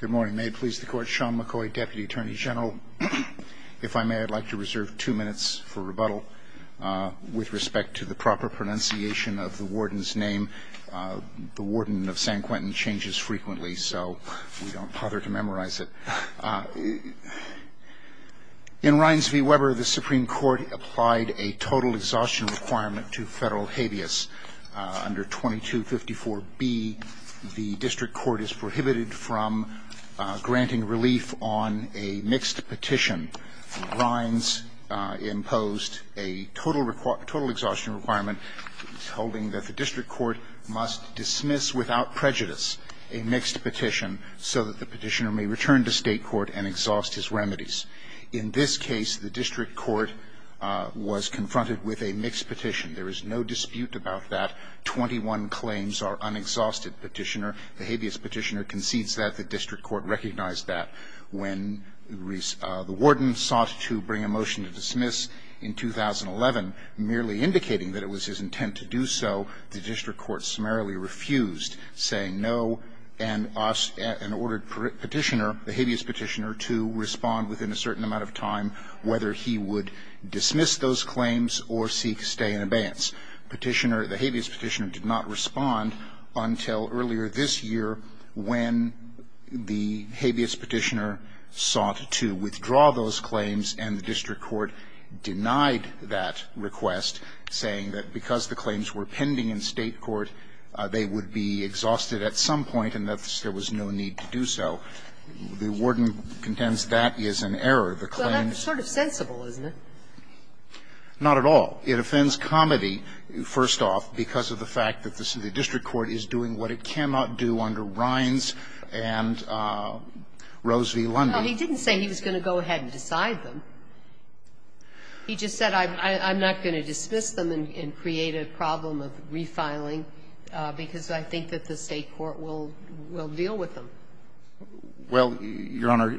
Good morning. May it please the Court, Sean McCoy, Deputy Attorney General. If I may, I'd like to reserve two minutes for rebuttal. With respect to the proper pronunciation of the warden's name, the warden of San Quentin changes frequently, so we don't bother to memorize it. In Rines v. Weber, the Supreme Court applied a total exhaustion requirement to federal habeas. Under 2254B, the district court is prohibited from granting relief on a mixed petition. Rines imposed a total exhaustion requirement holding that the district court must dismiss without prejudice a mixed petition so that the petitioner may return to state court and exhaust his remedies. In this case, the district court was confronted with a mixed petition. There is no dispute about that. Twenty-one claims are unexhausted, Petitioner. The habeas petitioner concedes that. The district court recognized that. When the warden sought to bring a motion to dismiss in 2011, merely indicating that it was his intent to do so, the district court summarily refused, saying no, and ordered Petitioner, the habeas Petitioner, to respond within a certain amount of time whether he would dismiss those claims or seek to stay in abeyance. Petitioner, the habeas Petitioner, did not respond until earlier this year when the habeas Petitioner sought to withdraw those claims, and the district court denied that request, saying that because the claims were pending in state court, they would be exhausted at some point and that there was no need to do so. The warden contends that is an error. The claims that the district court denied, the district court denied the claims and the district court denied Petitioner the claims. Sotomayor, would you be comfortable if Petitioner had responded to the claims? Well, that's sort of sensible, isn't it? Not at all. It offends comedy, first off, because of the fact that the district court is doing what it cannot do under Rines and Rose v. Lundy. Well, he didn't say he was going to go ahead and decide them. He just said, I'm not going to dismiss them and create a problem of refiling, because I think that the State court will deal with them. Well, Your Honor,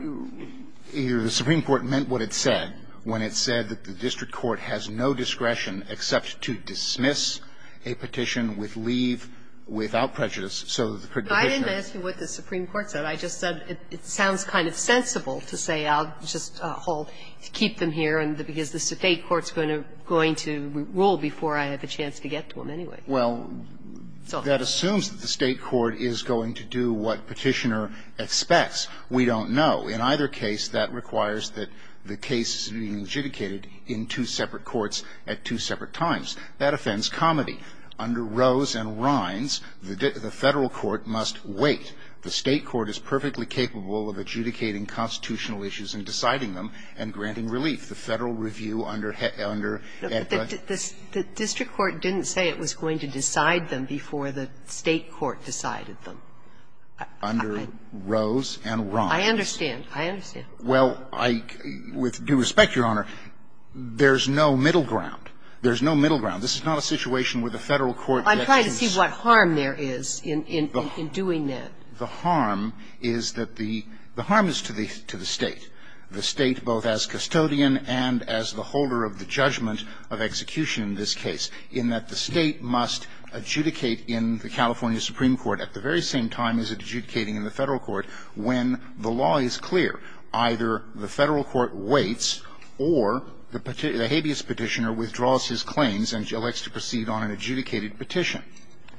the Supreme Court meant what it said when it said that the district court has no discretion except to dismiss a petition with leave without prejudice, so the petitioner But I didn't ask you what the Supreme Court said. I just said it sounds kind of sensible to say I'll just keep them here because the State court is going to rule before I have a chance to get to them anyway. Well, that assumes that the State court is going to do what Petitioner expects. We don't know. In either case, that requires that the case is being legiticated in two separate courts at two separate times. That offends comedy. Under Rose and Rines, the Federal court must wait. The State court is perfectly capable of adjudicating constitutional issues and deciding them and granting relief. The Federal review under Heth under The district court didn't say it was going to decide them before the State court decided them. Under Rose and Rines. I understand. I understand. Well, with due respect, Your Honor, there's no middle ground. There's no middle ground. This is not a situation where the Federal court gets to decide. What harm there is in doing that? The harm is that the harm is to the State. The State, both as custodian and as the holder of the judgment of execution in this case, in that the State must adjudicate in the California Supreme Court at the very same time as adjudicating in the Federal court when the law is clear. Either the Federal court waits or the habeas Petitioner withdraws his claims and elects to proceed on an adjudicated petition.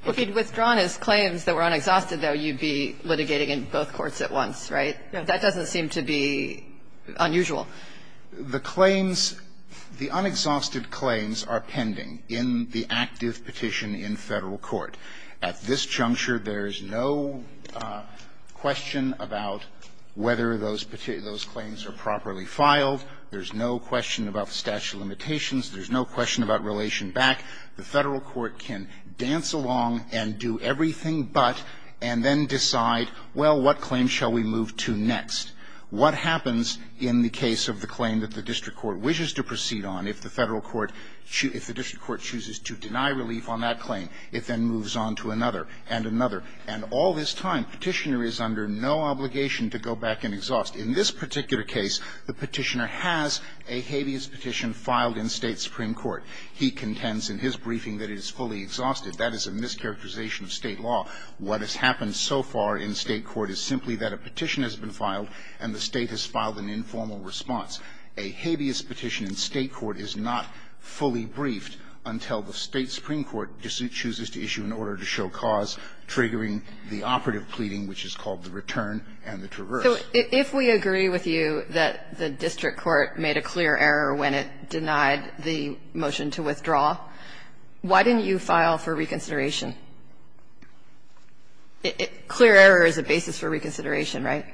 Well, if he'd withdrawn his claims that were unexhausted, though, you'd be litigating in both courts at once, right? That doesn't seem to be unusual. The claims, the unexhausted claims are pending in the active petition in Federal court. At this juncture, there's no question about whether those claims are properly filed. There's no question about the statute of limitations. There's no question about relation back. The Federal court can dance along and do everything but, and then decide, well, what claim shall we move to next? What happens in the case of the claim that the district court wishes to proceed on if the Federal court chooses to deny relief on that claim? It then moves on to another and another. And all this time, Petitioner is under no obligation to go back and exhaust. In this particular case, the Petitioner has a habeas petition filed in State supreme court. He contends in his briefing that it is fully exhausted. That is a mischaracterization of State law. What has happened so far in State court is simply that a petition has been filed and the State has filed an informal response. A habeas petition in State court is not fully briefed until the State supreme court chooses to issue an order to show cause, triggering the operative pleading, which is called the return and the traverse. Kagan. If we agree with you that the district court made a clear error when it denied the motion to withdraw, why didn't you file for reconsideration? Clear error is a basis for reconsideration, right?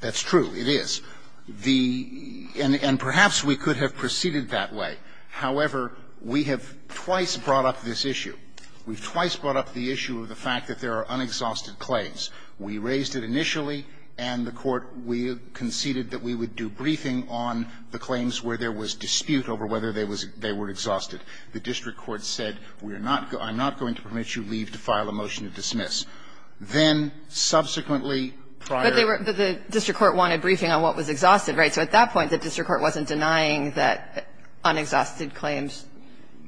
That's true. It is. The and perhaps we could have proceeded that way. However, we have twice brought up this issue. We've twice brought up the issue of the fact that there are unexhausted claims. We raised it initially, and the court conceded that we would do briefing on the claims where there was dispute over whether they were exhausted. The district court said, we're not going to permit you to leave to file a motion to dismiss. Then, subsequently, prior to that. But the district court wanted briefing on what was exhausted, right? So at that point, the district court wasn't denying that unexhausted claims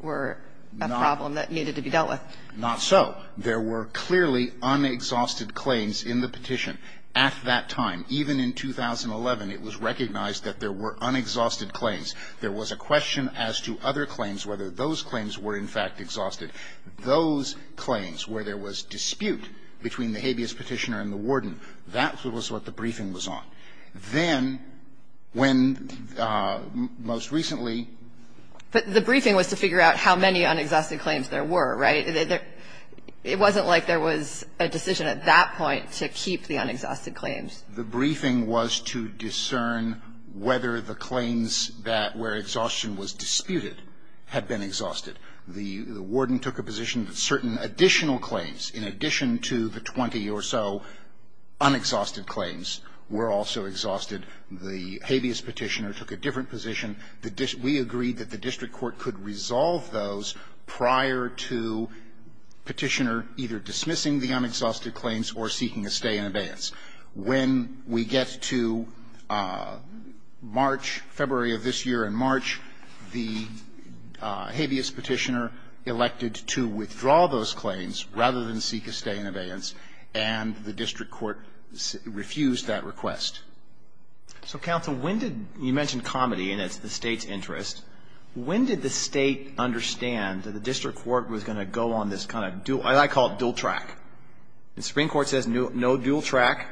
were a problem that needed to be dealt with. Not so. There were clearly unexhausted claims in the petition at that time. Even in 2011, it was recognized that there were unexhausted claims. There was a question as to other claims, whether those claims were, in fact, exhausted. Those claims where there was dispute between the habeas petitioner and the warden, that was what the briefing was on. Then, when most recently. But the briefing was to figure out how many unexhausted claims there were, right? It wasn't like there was a decision at that point to keep the unexhausted claims. The briefing was to discern whether the claims that where exhaustion was disputed had been exhausted. The warden took a position that certain additional claims, in addition to the 20 or so unexhausted claims, were also exhausted. The habeas petitioner took a different position. We agreed that the district court could resolve those prior to Petitioner either dismissing the unexhausted claims or seeking a stay in abeyance. When we get to March, February of this year and March, the habeas petitioner elected to withdraw those claims rather than seek a stay in abeyance, and the district court refused that request. So, counsel, when did you mention comedy, and it's the State's interest, when did the State understand that the district court was going to go on this kind of dual, I call it dual track. The Supreme Court says no dual track,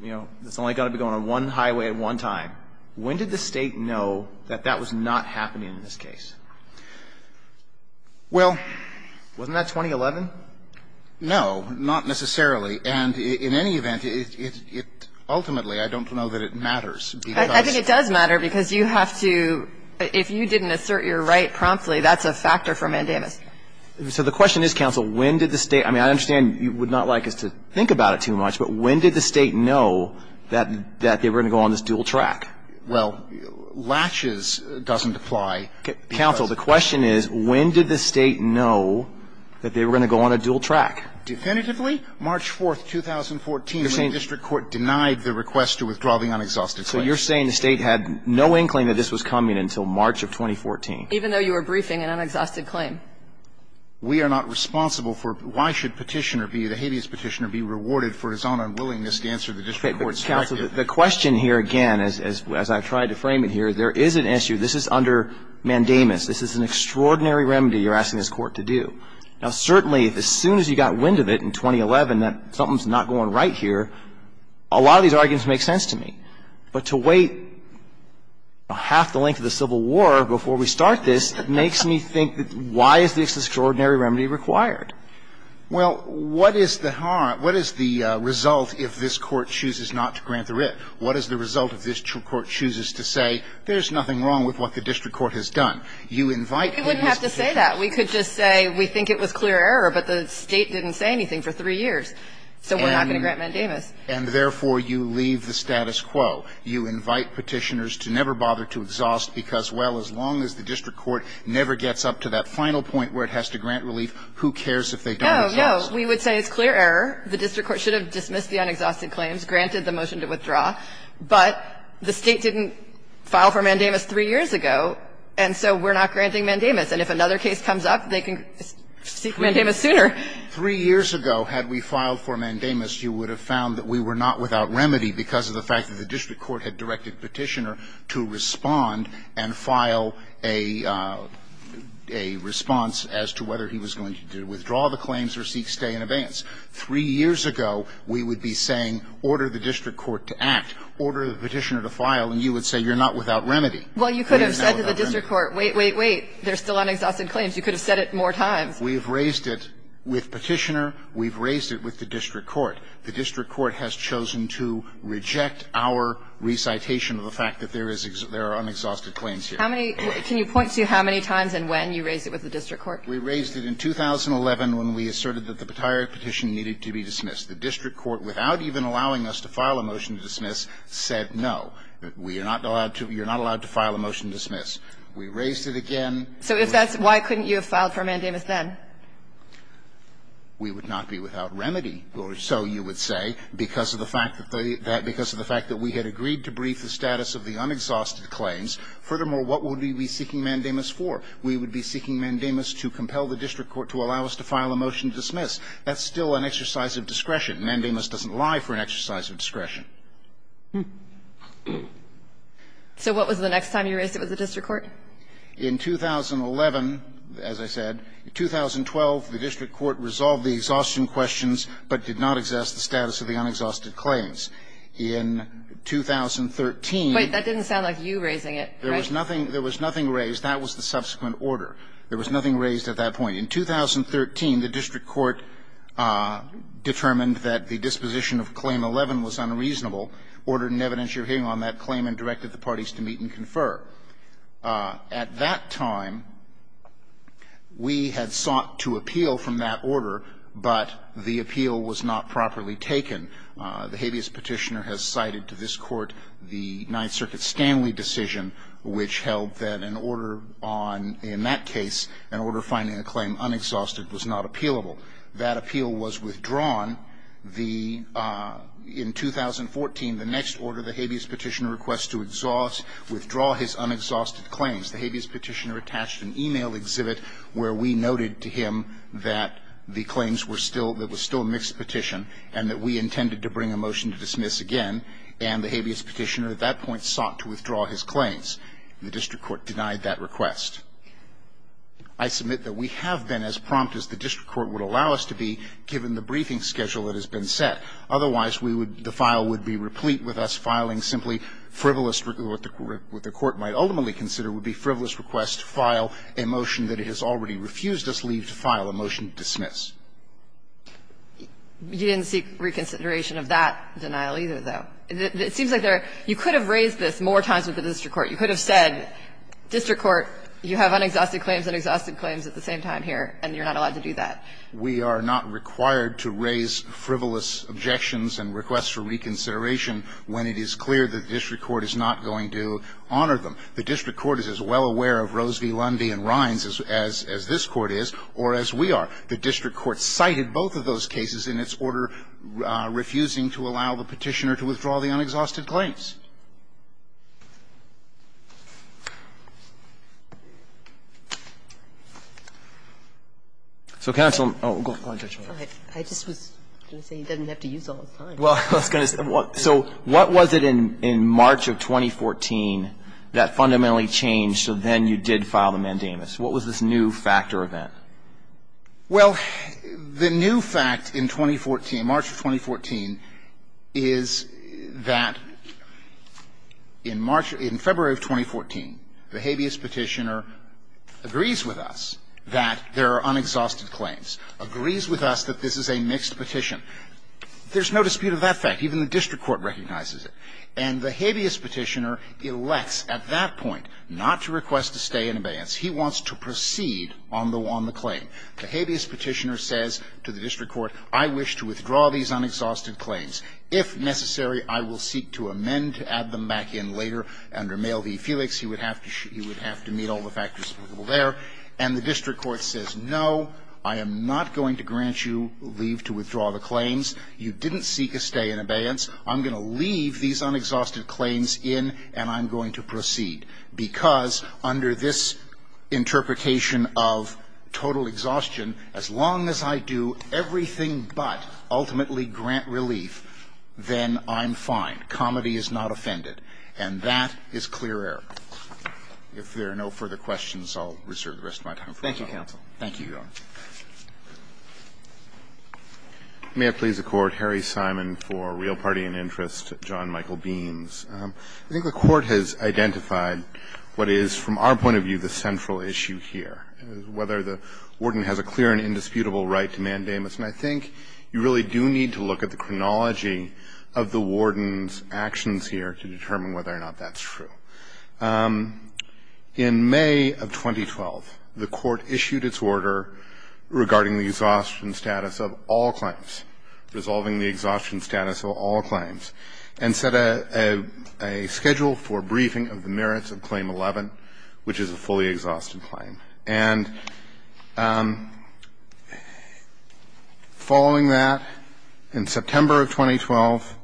you know, it's only got to be going on one highway at one time. When did the State know that that was not happening in this case? Well, wasn't that 2011? No, not necessarily. And in any event, it ultimately, I don't know that it matters. I think it does matter because you have to, if you didn't assert your right promptly, that's a factor for mandamus. So the question is, counsel, when did the State, I mean, I understand you would not like us to think about it too much, but when did the State know that they were going to go on this dual track? Well, latches doesn't apply. Counsel, the question is, when did the State know that they were going to go on a dual track? Definitively, March 4th, 2014, when the district court denied the request to withdraw the unexhausted claim. So you're saying the State had no inkling that this was coming until March of 2014? Even though you were briefing an unexhausted claim. We are not responsible for why should Petitioner be, the habeas Petitioner, be rewarded for his own unwillingness to answer the district court's question. Counsel, the question here, again, as I've tried to frame it here, there is an issue. This is under mandamus. This is an extraordinary remedy you're asking this court to do. Now, certainly, as soon as you got wind of it in 2011 that something's not going right here, a lot of these arguments make sense to me. But to wait half the length of the Civil War before we start this makes me think that why is this extraordinary remedy required? Well, what is the result if this Court chooses not to grant the writ? What is the result if this Court chooses to say there's nothing wrong with what the district court has done? You invite Petitioner. We wouldn't have to say that. We could just say we think it was clear error, but the State didn't say anything for three years, so we're not going to grant mandamus. And, therefore, you leave the status quo. You invite Petitioners to never bother to exhaust, because, well, as long as the district court never gets up to that final point where it has to grant relief, who cares if they don't exhaust? No, no. We would say it's clear error. The district court should have dismissed the unexhausted claims, granted the motion to withdraw, but the State didn't file for mandamus three years ago, and so we're not granting mandamus. And if another case comes up, they can seek mandamus sooner. Three years ago, had we filed for mandamus, you would have found that we were not without remedy because of the fact that the district court had directed Petitioner to respond and file a response as to whether he was going to withdraw the claims or seek stay in abeyance. Three years ago, we would be saying, order the district court to act. Order the Petitioner to file, and you would say you're not without remedy. We're now without remedy. Well, you could have said to the district court, wait, wait, wait, there's still unexhausted claims. You could have said it more times. We've raised it with Petitioner. We've raised it with the district court. The district court has chosen to reject our recitation of the fact that there is unexhausted claims here. How many can you point to how many times and when you raised it with the district court? We raised it in 2011 when we asserted that the Petire petition needed to be dismissed. The district court, without even allowing us to file a motion to dismiss, said no. We are not allowed to you're not allowed to file a motion to dismiss. We raised it again. So if that's why couldn't you have filed for mandamus then? We would not be without remedy, or so you would say, because of the fact that we had agreed to brief the status of the unexhausted claims. Furthermore, what would we be seeking mandamus for? We would be seeking mandamus to compel the district court to allow us to file a motion to dismiss. That's still an exercise of discretion. Mandamus doesn't lie for an exercise of discretion. So what was the next time you raised it with the district court? In 2011, as I said, in 2012, the district court resolved the exhaustion questions but did not assess the status of the unexhausted claims. In 2013 But that didn't sound like you raising it, right? There was nothing raised. That was the subsequent order. There was nothing raised at that point. In 2013, the district court determined that the disposition of Claim 11 was unreasonable and ordered an evidentiary hearing on that claim and directed the parties to meet and confer. At that time, we had sought to appeal from that order, but the appeal was not properly taken. The habeas petitioner has cited to this Court the Ninth Circuit Stanley decision, which held that an order on the in that case, an order finding a claim unexhausted was not appealable. That appeal was withdrawn. In 2014, the next order, the habeas petitioner requests to withdraw his unexhausted claims. The habeas petitioner attached an e-mail exhibit where we noted to him that the claims were still that was still a mixed petition and that we intended to bring a motion to dismiss again, and the habeas petitioner at that point sought to withdraw his claims. The district court denied that request. I submit that we have been as prompt as the district court would allow us to be given the briefing schedule that has been set. Otherwise, we would the file would be replete with us filing simply frivolous what the court might ultimately consider would be frivolous requests to file a motion that it has already refused us leave to file, a motion to dismiss. You didn't seek reconsideration of that denial either, though. It seems like there you could have raised this more times with the district court. You could have said, district court, you have unexhausted claims, unexhausted claims at the same time here, and you're not allowed to do that. We are not required to raise frivolous objections and requests for reconsideration when it is clear that the district court is not going to honor them. The district court is as well aware of Rose v. Lundy and Rines as this Court is or as we are. The district court cited both of those cases in its order refusing to allow the petitioner to withdraw the unexhausted claims. So counsel, oh, go ahead, Judge Maynard. I just was going to say, he doesn't have to use all his time. Well, I was going to say, so what was it in March of 2014 that fundamentally changed so then you did file the mandamus? What was this new factor event? Well, the new fact in 2014, March of 2014, is that in March of 2014, the habeas petitioner agrees with us that there are unexhausted claims, agrees with us that this is a mixed petition. There's no dispute of that fact. Even the district court recognizes it. And the habeas petitioner elects at that point not to request a stay in abeyance. He wants to proceed on the claim. The habeas petitioner says to the district court, I wish to withdraw these unexhausted claims. If necessary, I will seek to amend to add them back in later. Under Male v. Felix, he would have to meet all the factors there. And the district court says, no, I am not going to grant you leave to withdraw the claims. You didn't seek a stay in abeyance. I'm going to leave these unexhausted claims in, and I'm going to proceed. Because under this interpretation of total exhaustion, as long as I do everything but ultimately grant relief, then I'm fine. Comedy is not offended. And that is clear error. If there are no further questions, I'll reserve the rest of my time for the following. Roberts. Thank you, counsel. Thank you, Your Honor. May it please the Court, Harry Simon for real party and interest, John Michael Beans. I think the Court has identified what is, from our point of view, the central issue here, whether the warden has a clear and indisputable right to mandamus. And I think you really do need to look at the chronology of the warden's actions here to determine whether or not that's true. In May of 2012, the Court issued its order regarding the exhaustion status of all briefs on Claim 11, and we submitted a schedule for briefing of the merits of Claim 11, which is a fully exhausted claim. And following that, in September of 2012,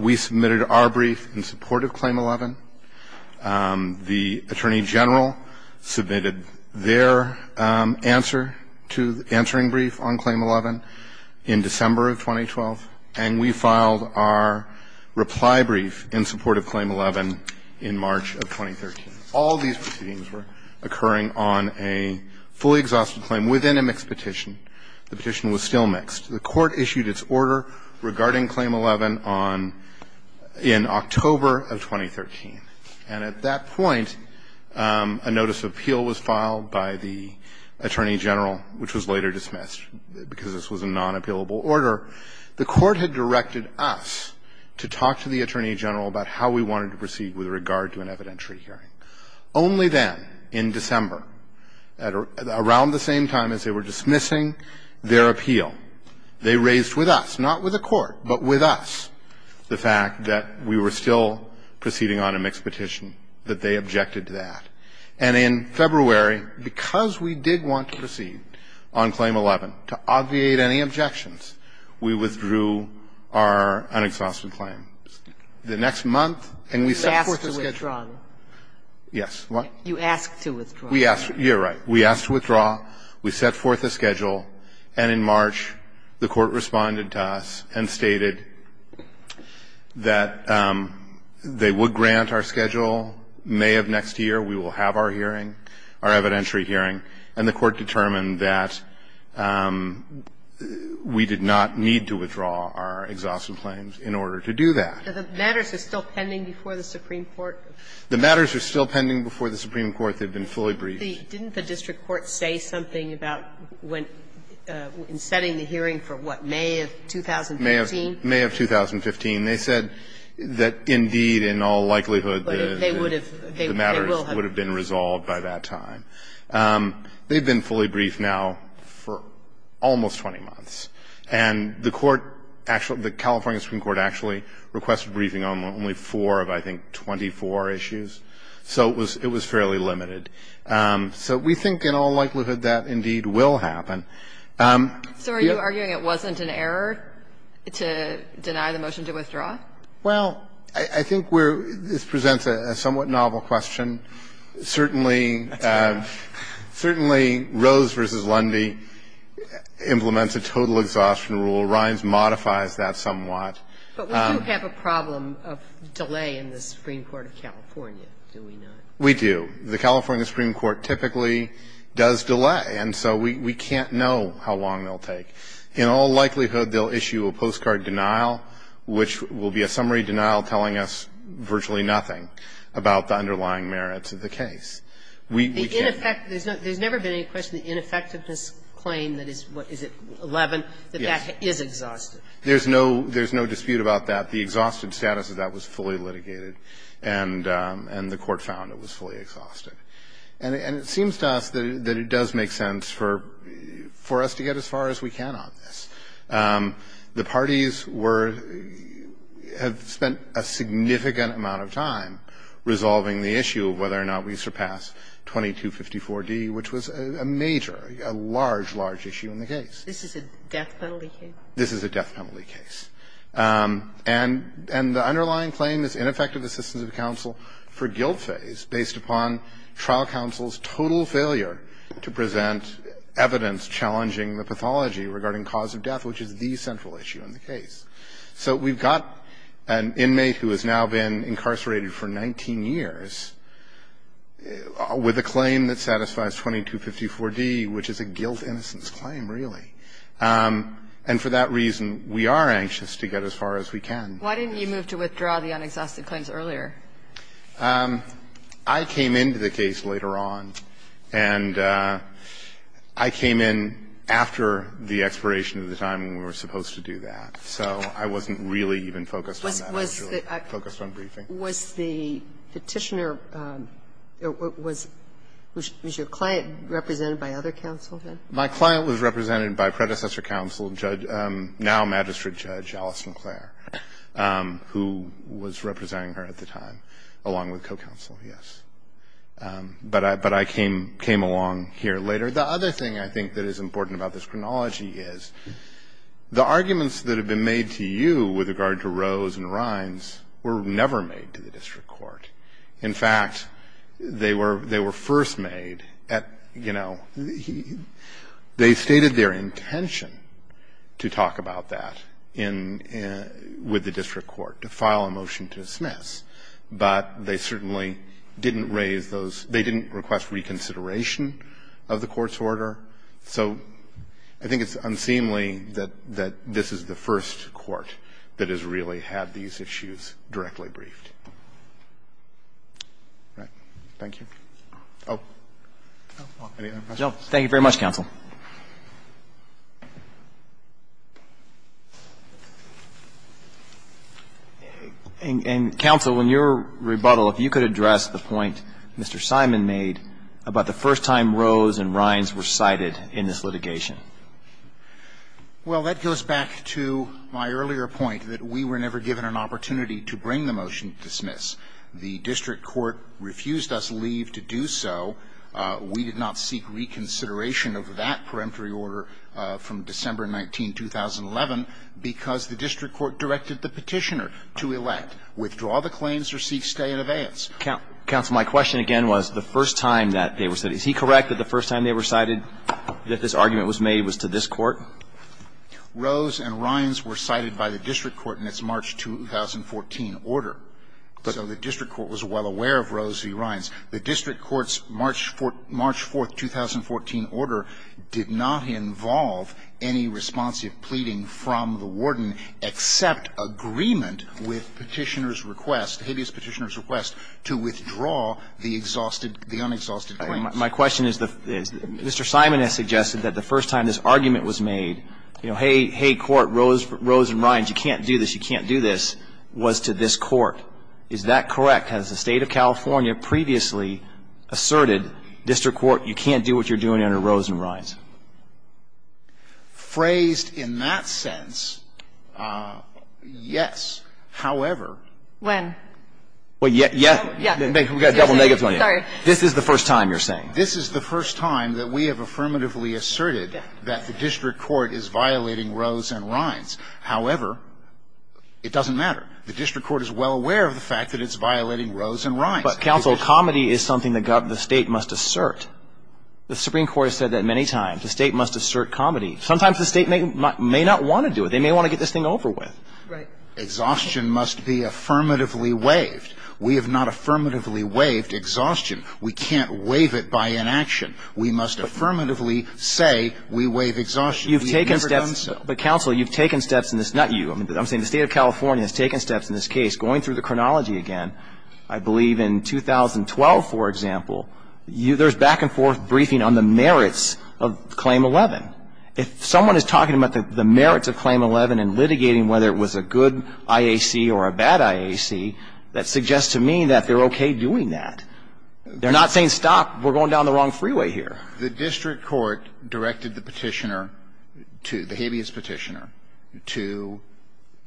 we submitted our brief in support of Claim 11. The Attorney General submitted their answer to the answering brief on Claim 11 in December of 2012. And we filed our reply brief in support of Claim 11 in March of 2013. All these proceedings were occurring on a fully exhausted claim within a mixed petition. The petition was still mixed. The Court issued its order regarding Claim 11 on – in October of 2013. And at that point, a notice of appeal was filed by the Attorney General, which was later dismissed because this was a non-appealable order. The Court had directed us to talk to the Attorney General about how we wanted to proceed with regard to an evidentiary hearing. Only then, in December, at around the same time as they were dismissing their appeal, they raised with us, not with the Court, but with us, the fact that we were still proceeding on a mixed petition, that they objected to that. And in February, because we did want to proceed on Claim 11 to obviate any objections, we withdrew our unexhausted claim. The next month, and we set forth a schedule. Sotomayor, you asked to withdraw. Yes. What? You asked to withdraw. We asked to – you're right. We asked to withdraw. We set forth a schedule. And in March, the Court responded to us and stated that they would grant our schedule. May of next year, we will have our hearing, our evidentiary hearing. And the Court determined that we did not need to withdraw our exhausted claims in order to do that. But the matters are still pending before the Supreme Court. The matters are still pending before the Supreme Court. They've been fully briefed. Didn't the district court say something about when – in setting the hearing for, what, May of 2015? May of – May of 2015. They said that, indeed, in all likelihood, the matters would have been resolved by that time. They've been fully briefed now for almost 20 months. And the Court actually – the California Supreme Court actually requested briefing on only four of, I think, 24 issues. So it was fairly limited. So we think in all likelihood that, indeed, will happen. So are you arguing it wasn't an error to deny the motion to withdraw? Well, I think we're – this presents a somewhat novel question. Certainly – certainly, Rose v. Lundy implements a total exhaustion rule. Rhines modifies that somewhat. But we do have a problem of delay in the Supreme Court of California, do we not? We do. The California Supreme Court typically does delay. And so we can't know how long they'll take. In all likelihood, they'll issue a postcard denial, which will be a summary denial, telling us virtually nothing about the underlying merits of the case. We can't – The ineffect – there's no – there's never been any question of the ineffectiveness claim that is – what is it, 11? Yes. That that is exhausted. There's no – there's no dispute about that. The exhausted status of that was fully litigated. And the Court found it was fully exhausted. And it seems to us that it does make sense for us to get as far as we can on this. The parties were – have spent a significant amount of time resolving the issue of whether or not we surpass 2254d, which was a major, a large, large issue in the case. This is a death penalty case? This is a death penalty case. And the underlying claim is ineffective assistance of counsel for guilt phase based upon trial counsel's total failure to present evidence challenging the pathology regarding cause of death, which is the central issue in the case. So we've got an inmate who has now been incarcerated for 19 years with a claim that satisfies 2254d, which is a guilt innocence claim, really. And for that reason, we are anxious to get as far as we can. Why didn't you move to withdraw the unexhausted claims earlier? I came into the case later on, and I came in after the expiration of the time when we were supposed to do that. So I wasn't really even focused on that. I was really focused on briefing. Was the Petitioner – was your client represented by other counsel then? My client was represented by predecessor counsel, now magistrate judge, Alice I was representing her at the time, along with co-counsel, yes. But I came along here later. The other thing I think that is important about this chronology is the arguments that have been made to you with regard to Rose and Rhines were never made to the district court. In fact, they were first made at, you know, they stated their intention to talk about that in – with the district court, to file a motion to dismiss. But they certainly didn't raise those – they didn't request reconsideration of the court's order. So I think it's unseemly that this is the first court that has really had these issues directly briefed. All right. Thank you. Oh, any other questions? Thank you very much, counsel. And, counsel, in your rebuttal, if you could address the point Mr. Simon made about the first time Rose and Rhines were cited in this litigation. Well, that goes back to my earlier point that we were never given an opportunity to bring the motion to dismiss. The district court refused us leave to do so. We did not seek reconsideration of that peremptory order from December 19, 2011, because the district court directed the Petitioner to elect, withdraw the claims or seek stay in abeyance. Counsel, my question again was the first time that they were cited. Is he correct that the first time they were cited, that this argument was made, was to this court? Rose and Rhines were cited by the district court in its March 2014 order. So the district court was well aware of Rose v. Rhines. The district court's March 4, 2014 order did not involve any responsive pleading from the warden except agreement with Petitioner's request, Habeas Petitioner's request to withdraw the exhausted, the unexhausted claims. My question is, Mr. Simon has suggested that the first time this argument was made, you know, hey, hey, court, Rose and Rhines, you can't do this, you can't do this, was to this court. Is that correct? Has the State of California previously asserted, district court, you can't do what you're doing under Rose and Rhines? Phrased in that sense, yes. However. When? Well, yes, we've got double negatives on you. This is the first time you're saying? This is the first time that we have affirmatively asserted that the district court is violating Rose and Rhines. However, it doesn't matter. The district court is well aware of the fact that it's violating Rose and Rhines. But counsel, comedy is something that the State must assert. The Supreme Court has said that many times. The State must assert comedy. Sometimes the State may not want to do it. They may want to get this thing over with. Exhaustion must be affirmatively waived. We have not affirmatively waived exhaustion. We can't waive it by inaction. We must affirmatively say we waive exhaustion. You've taken steps, but counsel, you've taken steps, not you, I'm saying the State of California has taken steps in this case. Going through the chronology again, I believe in 2012, for example, there's back and forth briefing on the merits of Claim 11. If someone is talking about the merits of Claim 11 and litigating whether it was a good IAC or a bad IAC, that suggests to me that they're okay doing that. They're not saying, stop, we're going down the wrong freeway here. The district court directed the Petitioner to, the habeas Petitioner, to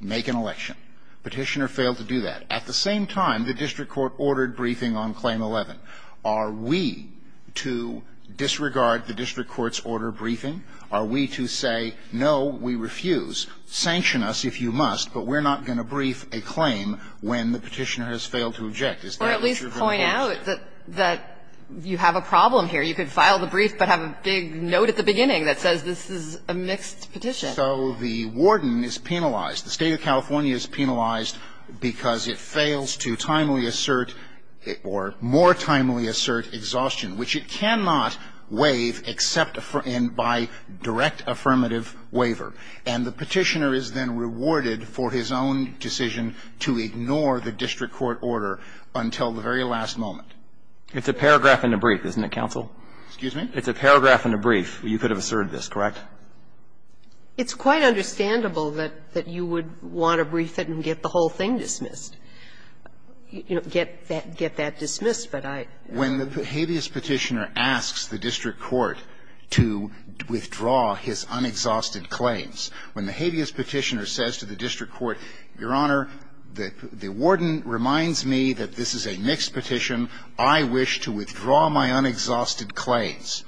make an election. Petitioner failed to do that. At the same time, the district court ordered briefing on Claim 11. Are we to disregard the district court's order of briefing? Are we to say, no, we refuse, sanction us if you must, but we're not going to brief a claim when the Petitioner has failed to object? Is that what you're going to do? Or at least point out that you have a problem here. You could file the brief, but have a big note at the beginning that says this is a mixed petition. So the warden is penalized. The State of California is penalized because it fails to timely assert or more timely assert exhaustion, which it cannot waive except by direct affirmative waiver. And the Petitioner is then rewarded for his own decision to ignore the district court order until the very last moment. It's a paragraph and a brief, isn't it, counsel? Excuse me? It's a paragraph and a brief. You could have asserted this, correct? It's quite understandable that you would want to brief it and get the whole thing dismissed. You know, get that dismissed, but I don't know. When the habeas Petitioner asks the district court to withdraw his unexhausted claims, when the habeas Petitioner says to the district court, Your Honor, the warden reminds me that this is a mixed petition, I wish to withdraw my unexhausted claims,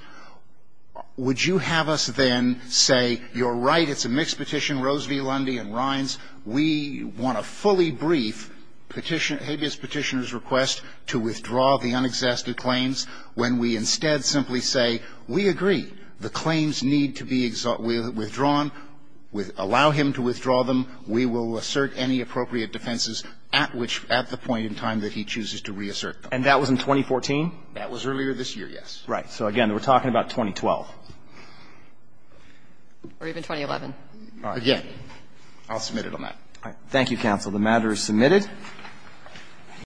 would you have us then say, You're right, it's a mixed petition, Rose v. Lundy and Rines. We want to fully brief Petitioner, habeas Petitioner's request to withdraw the unexhausted claims, when we instead simply say, We agree. The claims need to be withdrawn, allow him to withdraw them, we will assert any appropriate defenses at which at the point in time that he chooses to reassert them. And that was in 2014? That was earlier this year, yes. Right. So again, we're talking about 2012. Or even 2011. Again, I'll submit it on that. The matter is submitted.